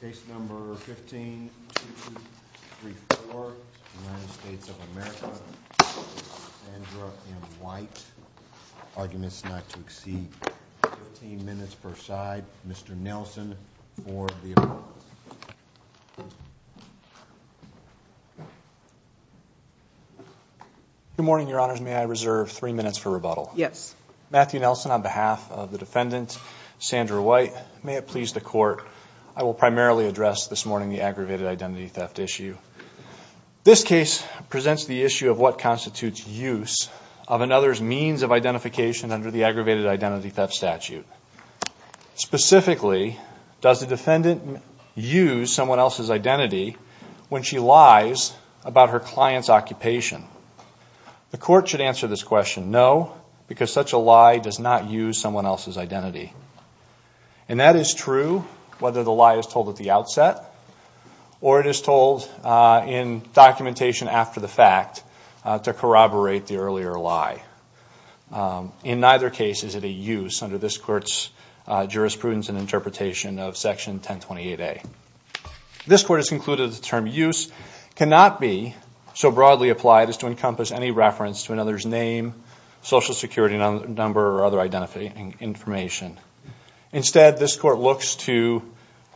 Good morning, your honors. May I reserve three minutes for rebuttal? Yes. Matthew Nelson on behalf of the defendant, Sandra White. May it please the court, I will primarily address this morning the aggravated identity theft issue. This case presents the issue of what constitutes use of another's means of identification under the aggravated identity theft statute. Specifically, does the defendant use someone else's identity when she lies about her client's occupation? The court should answer this question, no, because such a lie does not use someone else's identity. And that is true whether the lie is told at the outset or it is told in documentation after the fact to corroborate the earlier lie. In neither case is it a use under this court's jurisprudence and interpretation of section 1028A. This court has concluded the term use cannot be so broadly applied as to social security number or other identification. Instead, this court looks to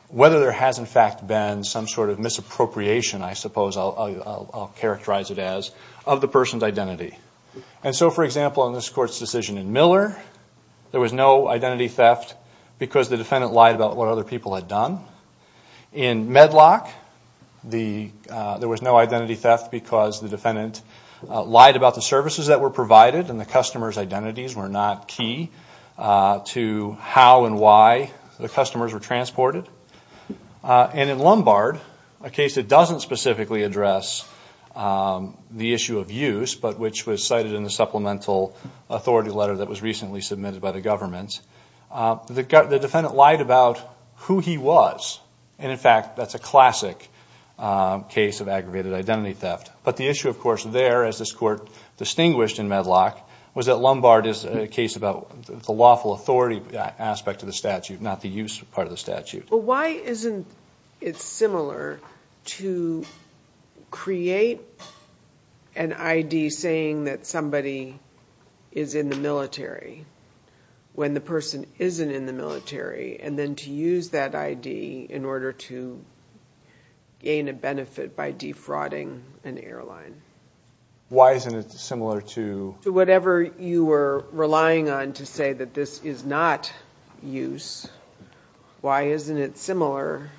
whether there has in fact been some sort of misappropriation, I suppose I'll characterize it as, of the person's identity. And so, for example, in this court's decision in Miller, there was no identity theft because the defendant lied about what other people had done. In Medlock, there was no identity theft because the defendant lied about the services that were provided and the customer's identities were not key to how and why the customers were transported. And in Lombard, a case that doesn't specifically address the issue of use but which was cited in the supplemental authority letter that was recently submitted by the government, the defendant lied about who he was. And in fact, that's a classic case of aggravated in Medlock was that Lombard is a case about the lawful authority aspect of the statute, not the use part of the statute. But why isn't it similar to create an ID saying that somebody is in the military when the person isn't in the military and then to use that ID in order to gain a benefit by defrauding an airline? Why isn't it similar to... To whatever you were relying on to say that this is not use. Why isn't it similar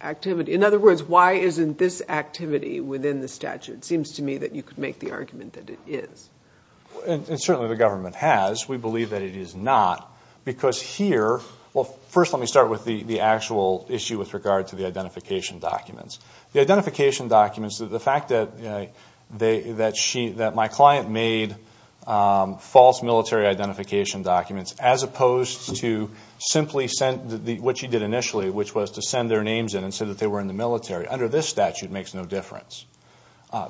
activity? In other words, why isn't this activity within the statute? It seems to me that you could make the argument that it is. And certainly the government has. We believe that it is not because here... Well, first let me start with the actual issue with regard to the identification documents. The identification documents, the fact that my client made false military identification documents as opposed to simply what she did initially, which was to send their names in and say that they were in the military. Under this statute, it makes no difference.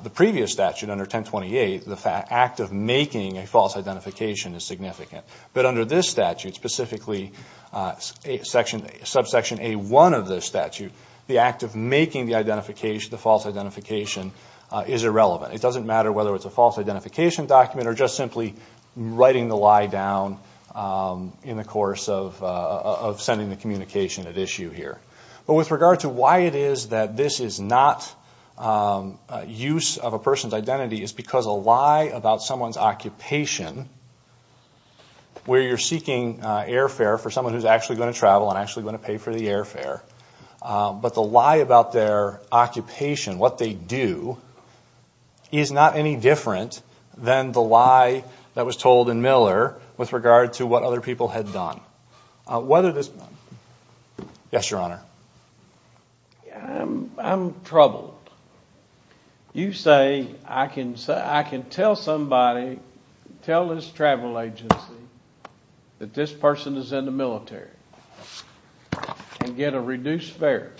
The previous statute, under 1028, the act of making a false identification is significant. But under this statute, specifically subsection A1 of this statute, the act of making the false identification is irrelevant. It doesn't matter whether it's a false identification document or just simply writing the lie down in the course of sending the communication at issue here. But with regard to why it is that this is not use of a person's identity is because a lie about someone's occupation, where you're seeking airfare for someone who's actually going to travel and actually going to pay for the airfare, but the lie about their occupation, what they do, is not any different than the lie that was told in Miller with regard to what other people had done. Whether this... Yes, Your Honor. I'm troubled. You say I can tell somebody, tell this travel agency, that this person is in the military and get a reduced fare,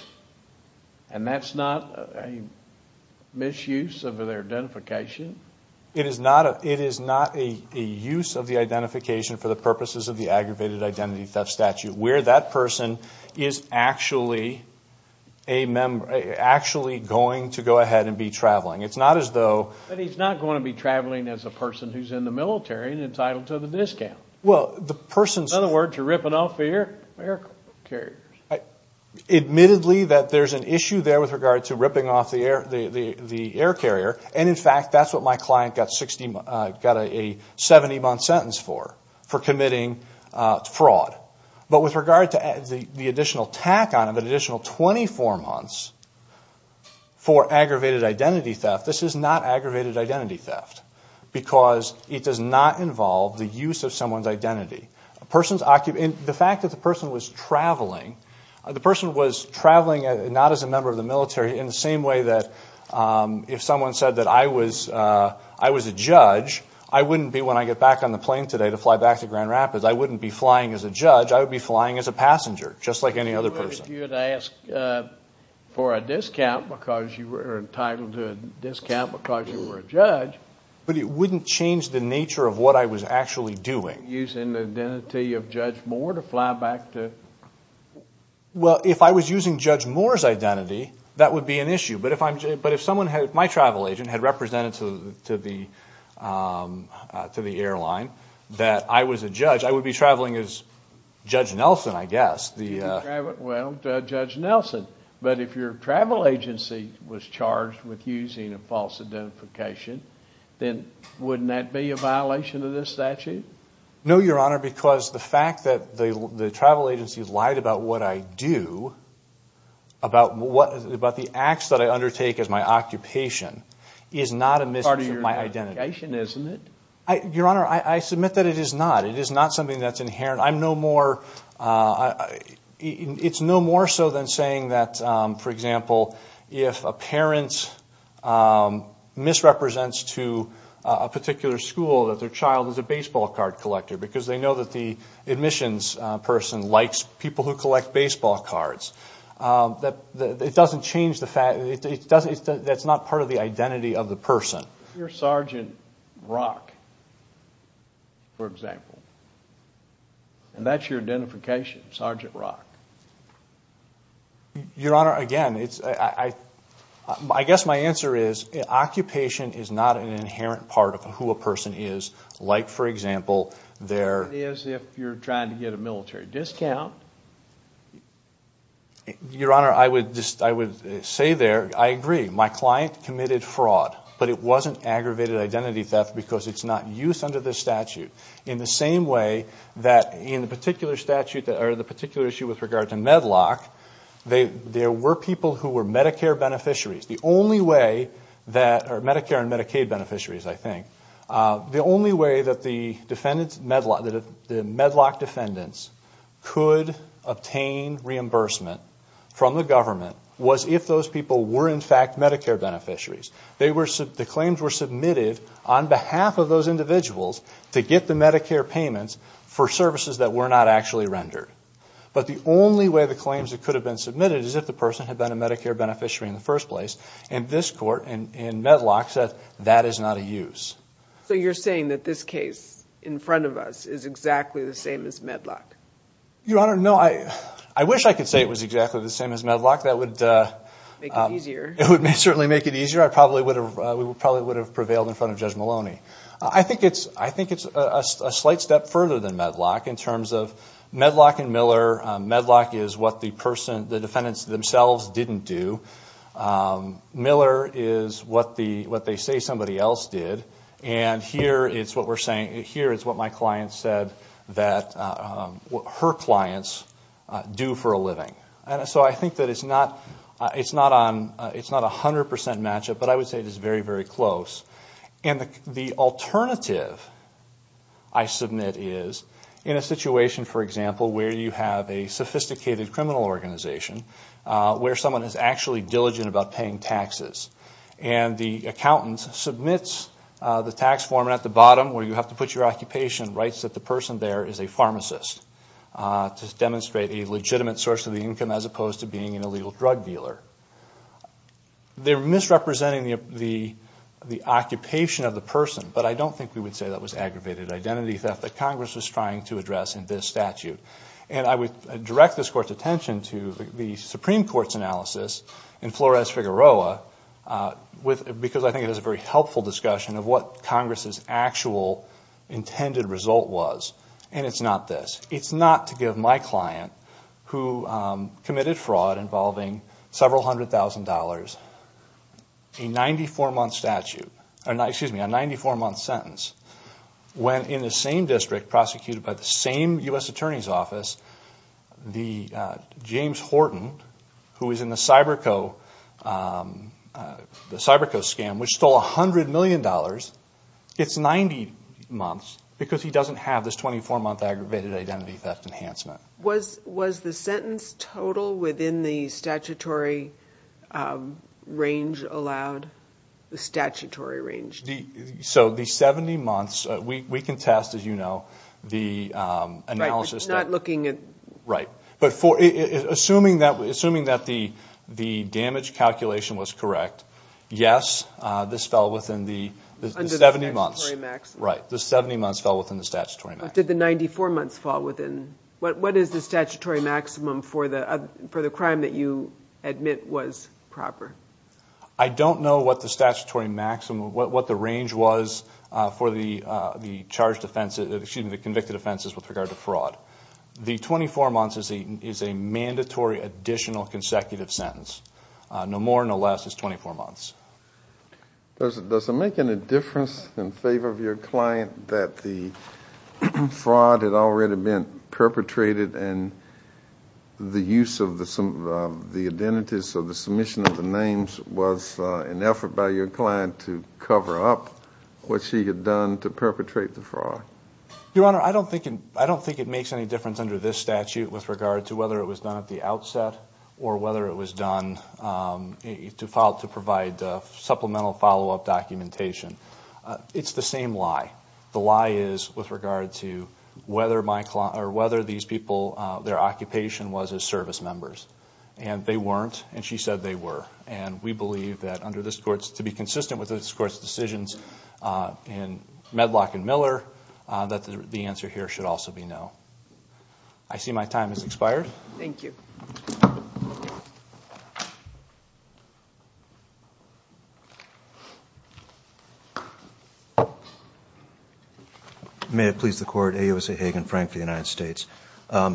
and that's not a misuse of their identification? It is not a use of the identification for the purposes of the aggravated identity theft statute, where that person is actually going to go ahead and be traveling. It's not as though... But he's not going to be traveling as a person who's in the military and entitled to the discount. Well, the person's... In other words, you're ripping off the air carriers. Admittedly, there's an issue there with regard to ripping off the air carrier, and in fact, that's what my client got a 70-month sentence for, for committing fraud. But with regard to the additional tack on it, an additional 24 months for aggravated identity theft, this is not aggravated identity theft, because it does not involve the use of someone's identity. The fact that the person was traveling, the person was traveling not as a member of the military in the same way that if someone said that I was a judge, I wouldn't be, when I get back on the plane today to fly back to Grand Rapids, I wouldn't be flying as a judge. I would be flying as a passenger, just like any other person. You would ask for a discount because you were entitled to a discount because you were a judge. But it wouldn't change the nature of what I was actually doing. Using the identity of Judge Moore to fly back to... Well, if I was using Judge Moore's identity, that would be an issue. But if someone, my travel agent, had represented to the airline that I was a judge, I would be traveling as Judge Nelson, I guess. Well, Judge Nelson. But if your travel agency was charged with using a false identification, then wouldn't that be a violation of this statute? No, Your Honor, because the fact that the travel agency lied about what I do, about the acts that I undertake as my occupation, is not a misuse of my identity. It's part of your identification, isn't it? Your Honor, I submit that it is not. It is not something that's inherent. It's no more so than saying that, for example, if a parent misrepresents to a particular school that their child is a baseball card collector because they know that the admissions person likes people who collect baseball cards. It doesn't change the fact... That's not part of the identity of the person. Your Sergeant Rock, for example, and that's your identification, Sergeant Rock. Your Honor, again, I guess my answer is, occupation is not an inherent part of who a person is. Like for example, their... It is if you're trying to get a military discount. Your Honor, I would say there, I agree. My client committed fraud, but it wasn't aggravated identity theft because it's not used under this statute in the same way that in the particular statute, or the particular issue with regard to Medlock, there were people who were Medicare beneficiaries. The only way that... Medicare and Medicaid beneficiaries, I think. The only way that the Medlock defendants could obtain reimbursement from the government was if those people were in fact Medicare beneficiaries. The claims were submitted on behalf of those individuals to get the Medicare payments for services that were not actually rendered. But the only way the claims could have been submitted is if the person had been a Medicare beneficiary in the first place, and this court, in Medlock, said that is not a use. You're saying that this case in front of us is exactly the same as Medlock? Your Honor, no. I wish I could say it was exactly the same as Medlock. That would... Make it easier. It would certainly make it easier. I probably would have... We probably would have prevailed in front of Judge Maloney. I think it's a slight step further than Medlock in terms of Medlock and Miller. Medlock is what the person, the defendants themselves didn't do. Miller is what they say somebody else did, and here it's what we're saying. Here is what my client said that her clients do for a living. So I think that it's not a 100% matchup, but I would say it is very, very close. The alternative I submit is in a situation, for example, where you have a sophisticated criminal organization, where someone is actually diligent about paying taxes, and the accountant submits the tax form at the bottom where you have to put your occupation, writes that the income as opposed to being an illegal drug dealer. They're misrepresenting the occupation of the person, but I don't think we would say that was aggravated identity theft that Congress was trying to address in this statute. I would direct this Court's attention to the Supreme Court's analysis in Flores-Figueroa because I think it is a very helpful discussion of what Congress's actual intended result was, and it's not this. who committed fraud involving several hundred thousand dollars, a 94-month sentence, when in the same district prosecuted by the same U.S. Attorney's Office, James Horton, who is in the Cyberco scam, which stole $100 million. It's 90 months because he doesn't have this 24-month aggravated identity theft enhancement. Was the sentence total within the statutory range allowed? The statutory range? So the 70 months, we can test, as you know, the analysis. Not looking at... Right. But assuming that the damage calculation was correct, yes, this fell within the 70 months. Under the statutory maximum. Right. The 70 months fell within the statutory maximum. After the 94 months fall within... What is the statutory maximum for the crime that you admit was proper? I don't know what the statutory maximum... What the range was for the charged offenses, excuse me, the convicted offenses with regard to fraud. The 24 months is a mandatory additional consecutive sentence. No more, no less is 24 months. Does it make any difference in favor of your client that the fraud had already been perpetrated and the use of the identities of the submission of the names was an effort by your client to cover up what she had done to perpetrate the fraud? Your Honor, I don't think it makes any difference under this statute with regard to whether it was done at the outset or whether it was done to provide supplemental follow-up documentation. It's the same lie. The lie is with regard to whether these people, their occupation was as service members. They weren't, and she said they were. We believe that under this Court's... To be consistent with this Court's decisions in Medlock and Miller, that the answer here should also be no. I see my time has expired. Thank you. May it please the Court, A.O.S.A. Hagan, Frank for the United States.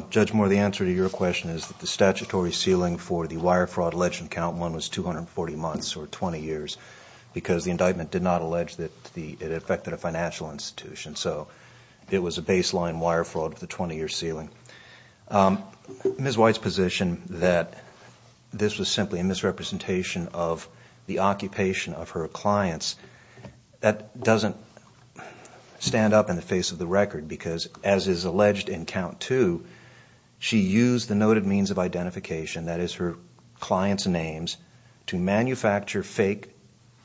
Judge Moore, the answer to your question is that the statutory ceiling for the wire fraud alleged count in one was 240 months or 20 years because the indictment did not allege that it affected a financial institution. So it was a baseline wire fraud with a 20-year ceiling. Ms. White's position that this was simply a misrepresentation of the occupation of her clients, that doesn't stand up in the face of the record because as is alleged in count two, she used the noted means of identification, that is her client's names, to manufacture fake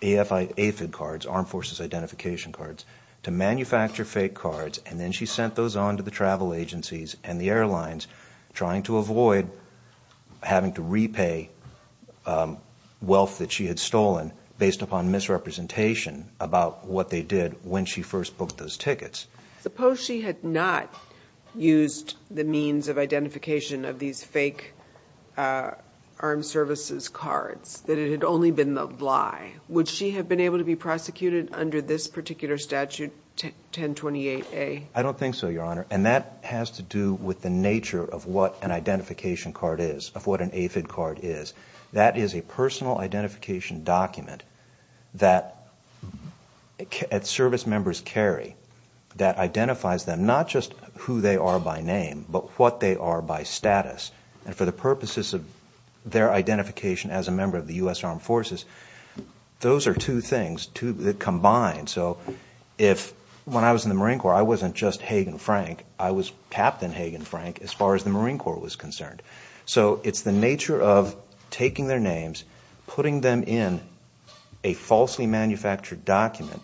AFID cards, Armed Forces Identification Cards, to manufacture fake cards and then she sent those on to the travel agencies and the airlines trying to avoid having to repay wealth that she had stolen based upon misrepresentation about what they did when she first booked those tickets. Suppose she had not used the means of identification of these fake armed services cards, that it had only been the lie. Would she have been able to be prosecuted under this particular statute, 1028A? I don't think so, Your Honor, and that has to do with the nature of what an identification card is, of what an AFID card is. That is a personal identification document that service members carry that identifies them, not just who they are by name, but what they are by status and for the purposes of their identification as a member of the U.S. Armed Forces. Those are two things that combine. When I was in the Marine Corps, I wasn't just Hagan Frank. I was Captain Hagan Frank as far as the Marine Corps was concerned. So it's the nature of taking their names, putting them in a falsely manufactured document,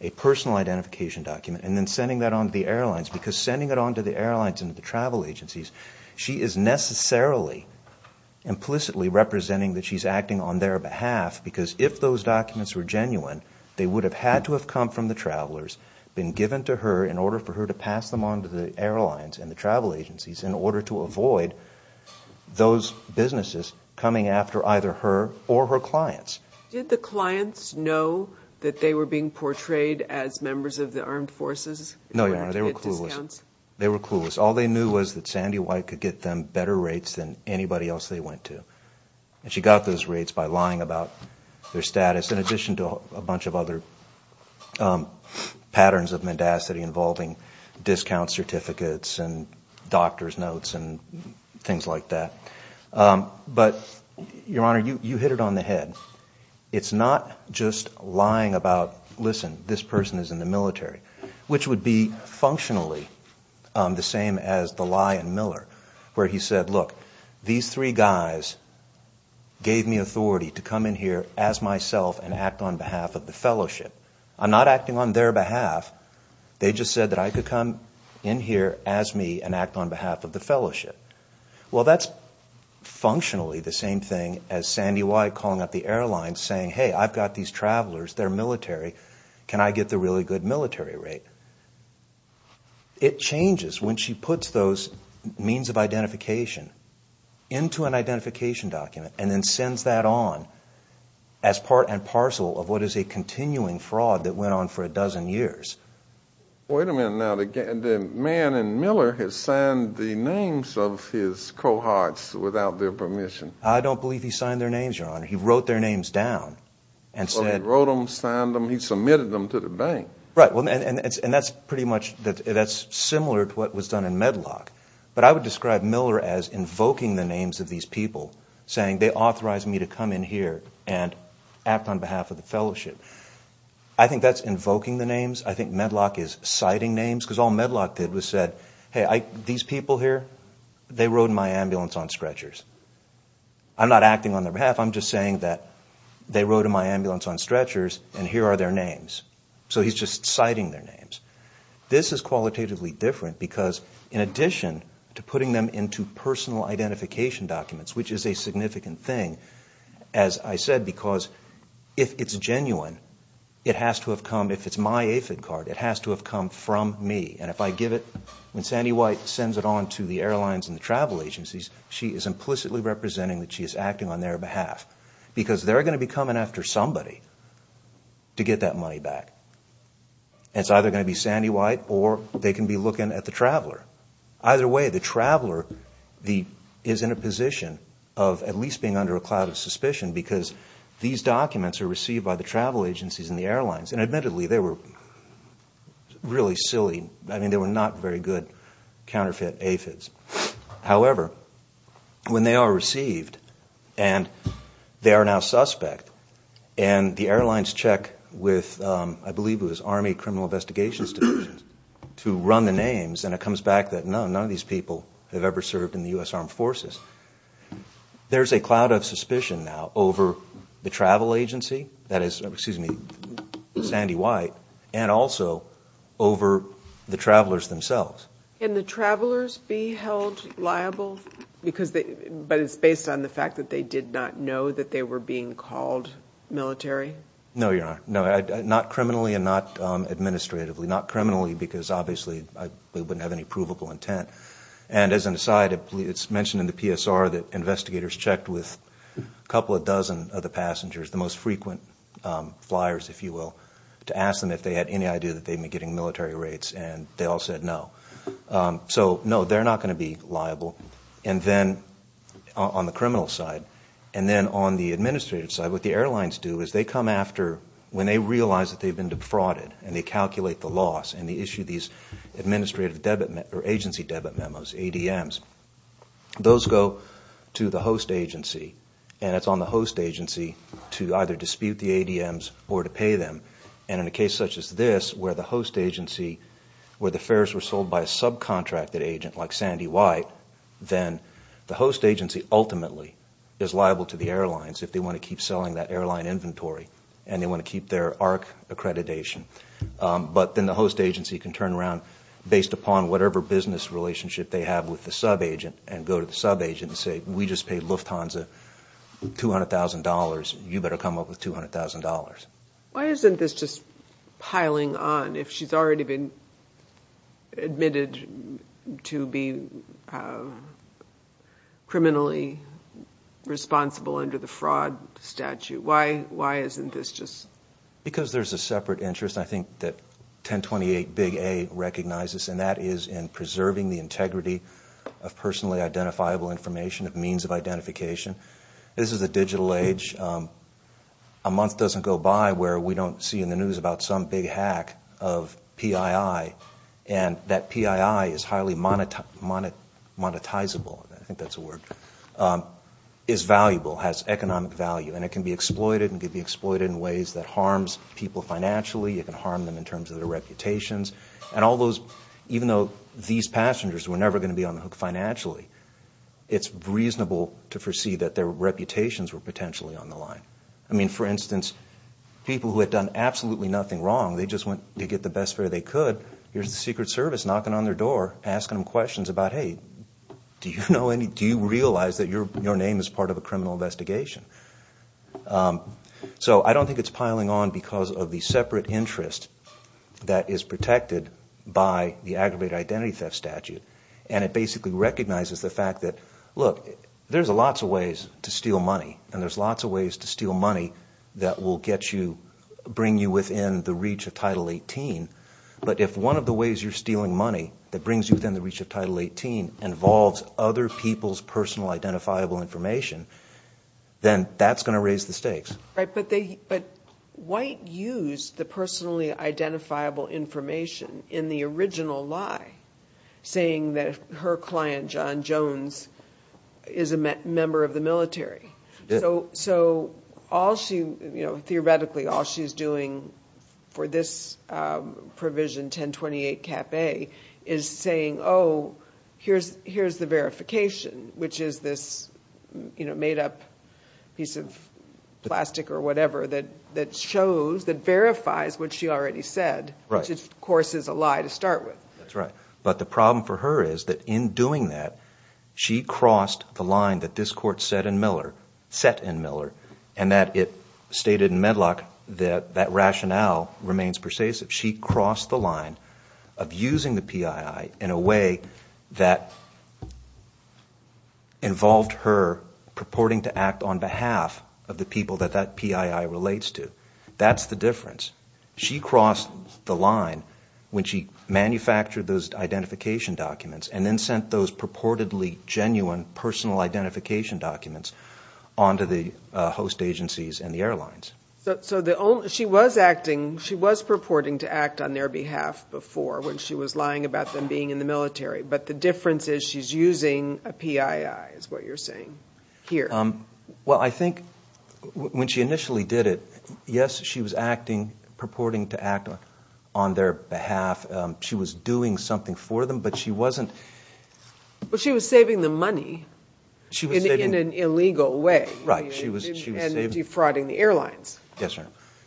a personal identification document, and then sending that on to the airlines because sending it on to the airlines and the travel agencies, she is necessarily implicitly representing that she's acting on their behalf because if those documents were genuine, they would have had to have come from the travelers, been given to her in order for her to pass them on to the airlines and the travel agencies in order to avoid those businesses coming after either her or her clients. Did the clients know that they were being portrayed as members of the Armed Forces? No, Your Honor. They were clueless. They were clueless. They were clueless. All they knew was that Sandy White could get them better rates than anybody else they went to. And she got those rates by lying about their status in addition to a bunch of other patterns of mendacity involving discount certificates and doctor's notes and things like that. But Your Honor, you hit it on the head. It's not just lying about, listen, this person is in the military, which would be functionally the same as the lie in Miller where he said, look, these three guys gave me authority to come in here as myself and act on behalf of the Fellowship. I'm not acting on their behalf. They just said that I could come in here as me and act on behalf of the Fellowship. Well, that's functionally the same thing as Sandy White calling up the airlines saying, hey, I've got these travelers. They're military. Can I get the really good military rate? It changes when she puts those means of identification into an identification document and then sends that on as part and parcel of what is a continuing fraud that went on for a dozen years. Wait a minute now. The man in Miller has signed the names of his cohorts without their permission. I don't believe he signed their names, Your Honor. He wrote their names down and said... He wrote them, signed them. He submitted them to the bank. Right. And that's pretty much, that's similar to what was done in Medlock. But I would describe Miller as invoking the names of these people saying they authorized me to come in here and act on behalf of the Fellowship. I think that's invoking the names. I think Medlock is citing names because all Medlock did was said, hey, these people here, they rode in my ambulance on stretchers. I'm not acting on their behalf. I'm just saying that they rode in my ambulance on stretchers and here are their names. So he's just citing their names. This is qualitatively different because in addition to putting them into personal identification documents, which is a significant thing, as I said, because if it's genuine, it has to have come, if it's my AFID card, it has to have come from me. And if I give it, when Sandy White sends it on to the airlines and the travel agencies, she is implicitly representing that she is acting on their behalf. Because they're going to be coming after somebody to get that money back. It's either going to be Sandy White or they can be looking at the traveler. Either way, the traveler is in a position of at least being under a cloud of suspicion because these documents are received by the travel agencies and the airlines. And admittedly, they were really silly. I mean, they were not very good counterfeit AFIDs. However, when they are received and they are now suspect and the airlines check with, I believe it was Army Criminal Investigations Division to run the names and it comes back that none of these people have ever served in the U.S. Armed Forces. There is a cloud of suspicion now over the travel agency, that is, excuse me, Sandy White and also over the travelers themselves. Can the travelers be held liable because they, but it's based on the fact that they did not know that they were being called military? No, you're not. Not criminally and not administratively. Not criminally because obviously they wouldn't have any provable intent. And as an aside, it's mentioned in the PSR that investigators checked with a couple of dozen of the passengers, the most frequent flyers, if you will, to ask them if they had any idea that they had been getting military rates and they all said no. So no, they're not going to be liable. And then, on the criminal side, and then on the administrative side, what the airlines do is they come after, when they realize that they've been defrauded and they calculate the loss and they issue these administrative debit or agency debit memos, ADMs. Those go to the host agency and it's on the host agency to either dispute the ADMs or to pay them. And in a case such as this, where the host agency, where the fares were sold by a subcontracted agent like Sandy White, then the host agency ultimately is liable to the airlines if they want to keep selling that airline inventory and they want to keep their ARC accreditation. But then the host agency can turn around, based upon whatever business relationship they have with the subagent, and go to the subagent and say, we just paid Lufthansa $200,000, you better come up with $200,000. Why isn't this just piling on if she's already been admitted to be criminally responsible under the fraud statute? Why isn't this just? Because there's a separate interest, I think, that 1028 big A recognizes, and that is in preserving the integrity of personally identifiable information, of means of identification. This is a digital age. A month doesn't go by where we don't see in the news about some big hack of PII, and that PII is highly monetizable, I think that's a word, is valuable, has economic value, and it can be exploited, and can be exploited in ways that harms people financially, it can harm them in terms of their reputations, and all those, even though these passengers were never going to be on the hook financially, it's reasonable to foresee that their reputations were potentially on the line. For instance, people who had done absolutely nothing wrong, they just went to get the best fare they could, here's the Secret Service knocking on their door, asking them questions about, hey, do you realize that your name is part of a criminal investigation? So I don't think it's piling on because of the separate interest that is protected by the aggravated identity theft statute, and it basically recognizes the fact that, look, there's lots of ways to steal money, and there's lots of ways to steal money that will get you, bring you within the reach of Title 18, but if one of the ways you're stealing money that brings you within the reach of Title 18 involves other people's personal identifiable information, then that's going to raise the stakes. Right, but White used the personally identifiable information in the original lie, saying that her client, John Jones, is a member of the military. So, theoretically, all she's doing for this provision, 1028 Cap A, is saying, oh, here's the verification, which is this made-up piece of plastic or whatever that shows, that verifies what she already said, which of course is a lie to start with. That's right, but the problem for her is that in doing that, she crossed the line that this was set in Miller, and that it stated in Medlock that that rationale remains pervasive. She crossed the line of using the PII in a way that involved her purporting to act on behalf of the people that that PII relates to. That's the difference. She crossed the line when she manufactured those identification documents and then sent those purportedly genuine personal identification documents on to the host agencies and the airlines. So, she was acting, she was purporting to act on their behalf before when she was lying about them being in the military, but the difference is she's using a PII is what you're saying here. Well, I think when she initially did it, yes, she was acting, purporting to act on their behalf. She was doing something for them, but she wasn't. She was saving them money in an illegal way and defrauding the airlines.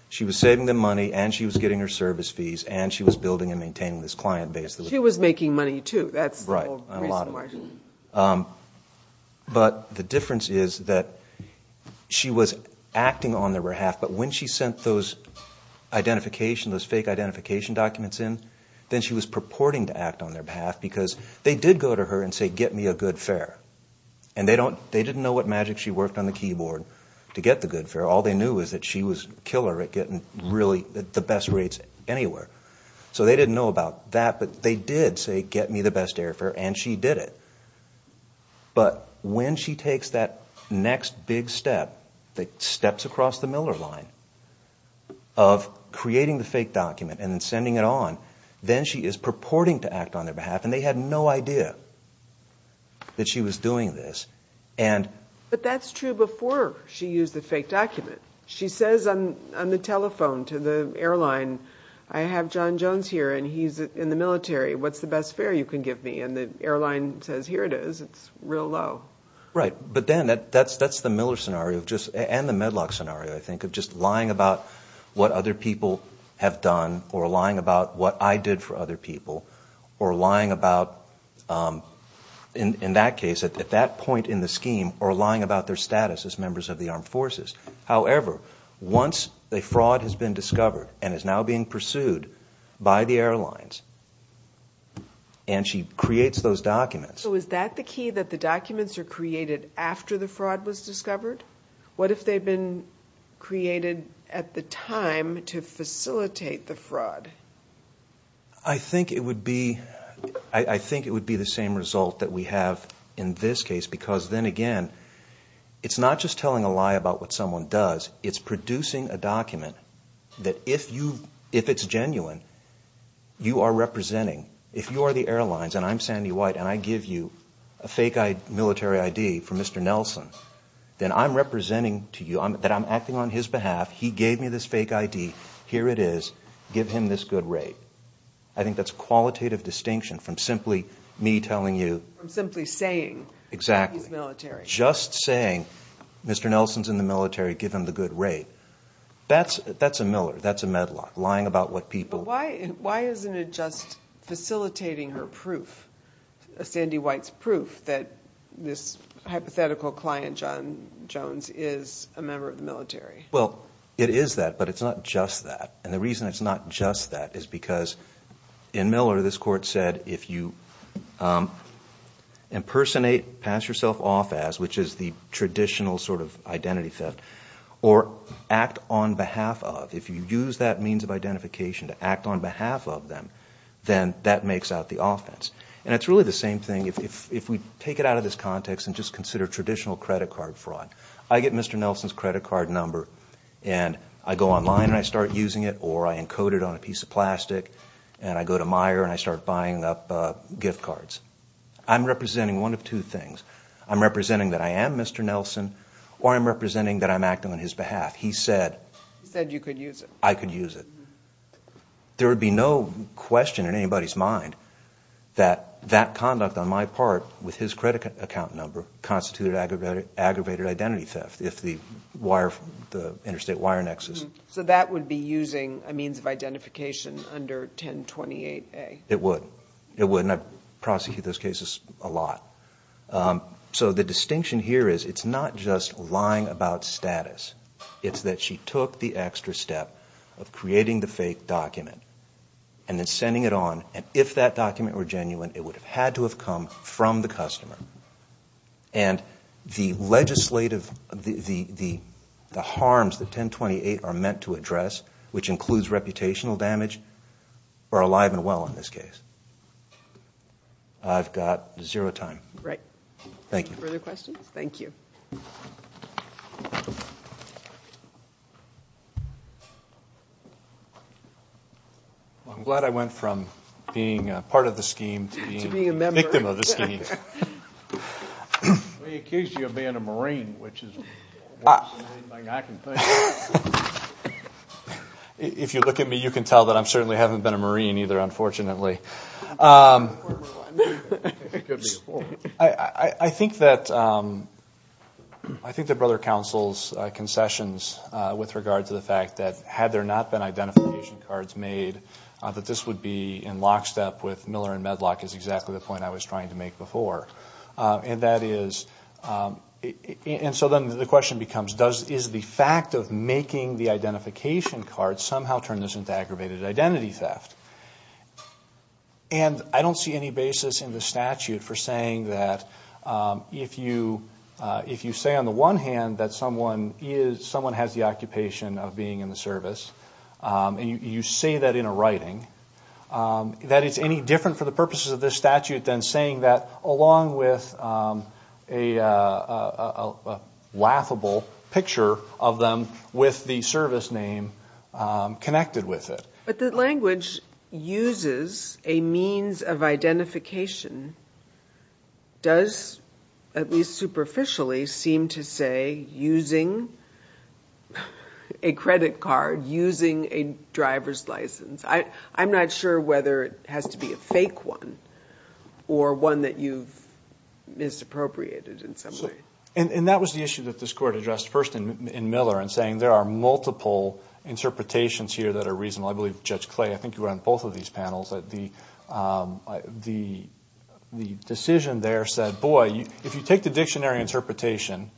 She was saving them money, and she was getting her service fees, and she was building and maintaining this client base. She was making money too, that's the whole reason why. But the difference is that she was acting on their behalf, but when she sent those fake identification documents in, then she was purporting to act on their behalf because they did go to her and say, get me a good fare. And they didn't know what magic she worked on the keyboard to get the good fare. All they knew was that she was a killer at getting really the best rates anywhere. So they didn't know about that, but they did say, get me the best airfare, and she did it. But when she takes that next big step that steps across the Miller line of creating the fake document and then sending it on, then she is purporting to act on their behalf, and they had no idea that she was doing this. But that's true before she used the fake document. She says on the telephone to the airline, I have John Jones here, and he's in the military. What's the best fare you can give me? And the airline says, here it is, it's real low. Right, but then that's the Miller scenario, and the Medlock scenario, I think, of just lying about what other people have done or lying about what I did for other people or lying about, in that case, at that point in the scheme, or lying about their status as members of the armed forces. However, once a fraud has been discovered and is now being pursued by the airlines, and she creates those documents. So is that the key, that the documents are created after the fraud was discovered? What if they've been created at the time to facilitate the fraud? I think it would be the same result that we have in this case, because then again, it's not just telling a lie about what someone does. It's producing a document that if it's genuine, you are representing. If you are the airlines, and I'm Sandy White, and I give you a fake military ID for Mr. Nelson, then I'm representing to you, that I'm acting on his behalf. He gave me this fake ID. Here it is. Give him this good rate. I think that's a qualitative distinction from simply me telling you. Simply saying that he's military. Just saying, Mr. Nelson's in the military, give him the good rate. That's a Miller. That's a Medlock. Lying about what people. Why isn't it just facilitating her proof, Sandy White's proof, that this hypothetical client, John Jones, is a member of the military? Well, it is that, but it's not just that. The reason it's not just that is because in Miller, this court said, if you impersonate, pass yourself off as, which is the traditional sort of identity theft, or act on behalf of, if you use that means of identification to act on behalf of them, then that makes out the offense. It's really the same thing if we take it out of this context and just consider traditional credit card fraud. I get Mr. Nelson's credit card number, and I go online and I start using it, or I encode it on a piece of plastic, and I go to Meijer and I start buying up gift cards. I'm representing one of two things. I'm representing that I am Mr. Nelson, or I'm representing that I'm acting on his behalf. He said- I could use it? I could use it. There would be no question in anybody's mind that that conduct on my part, with his credit account number, constituted aggravated identity theft, if the wire, the interstate wire nexus- So that would be using a means of identification under 1028A? It would. It would, and I prosecute those cases a lot. So the distinction here is, it's not just lying about status. It's that she took the extra step of creating the fake document and then sending it on, and if that document were genuine, it would have had to have come from the customer. And the legislative, the harms that 1028 are meant to address, which includes reputational damage, are alive and well in this case. I've got zero time. Great. Thank you. Further questions? Thank you. I'm glad I went from being a part of the scheme to being a victim of the scheme. We accused you of being a Marine, which is worse than anything I can think of. If you look at me, you can tell that I certainly haven't been a Marine either, unfortunately. I think that Brother Counsel's concessions with regard to the fact that had there not been identification cards made, that this would be in lockstep with Miller and Medlock is exactly the point I was trying to make before. And that is, and so then the question becomes, is the fact of making the identification card somehow turn this into aggravated identity theft? And I don't see any basis in the statute for saying that if you say on the one hand that someone has the occupation of being in the service, and you say that in a writing, that it's any different for the purposes of this statute than saying that along with a laughable picture of them with the service name connected with it. But the language uses a means of identification does, at least superficially, seem to say using a credit card, using a driver's license. I'm not sure whether it has to be a fake one or one that you've misappropriated in some way. And that was the issue that this Court addressed first in Miller in saying there are multiple interpretations here that are reasonable. I believe Judge Clay, I think you were on both of these panels, that the decision there said boy, if you take the dictionary interpretation,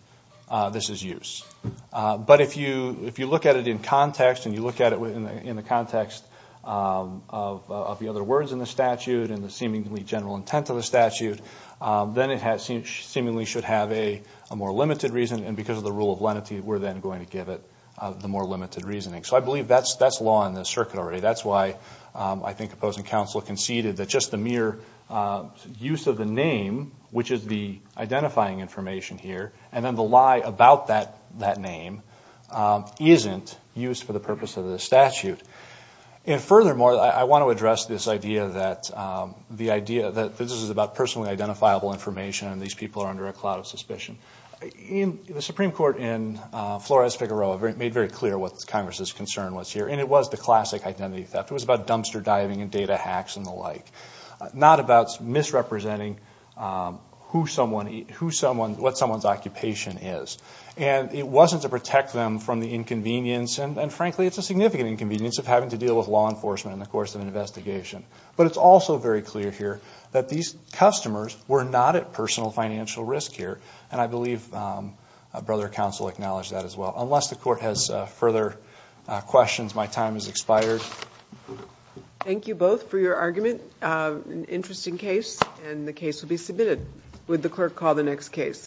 this is use. But if you look at it in context and you look at it in the context of the other words in the statute and the seemingly general intent of the statute, then it seemingly should have a more limited reason. And because of the rule of lenity, we're then going to give it the more limited reasoning. So I believe that's law in this circuit already. That's why I think opposing counsel conceded that just the mere use of the name, which is the identifying information here, and then the lie about that name isn't used for the purpose of the statute. And furthermore, I want to address this idea that this is about personally identifiable information and these people are under a cloud of suspicion. The Supreme Court in Flores-Figueroa made very clear what Congress's concern was here, and it was the classic identity theft. It was about dumpster diving and data hacks and the like, not about misrepresenting what someone's occupation is. And it wasn't to protect them from the inconvenience, and frankly, it's a significant inconvenience of having to deal with law enforcement in the course of an investigation. But it's also very clear here that these customers were not at personal financial risk here, and I believe Brother Counsel acknowledged that as well. Unless the Court has further questions, my time has expired. Thank you both for your argument. An interesting case, and the case will be submitted. Would the clerk call the next case?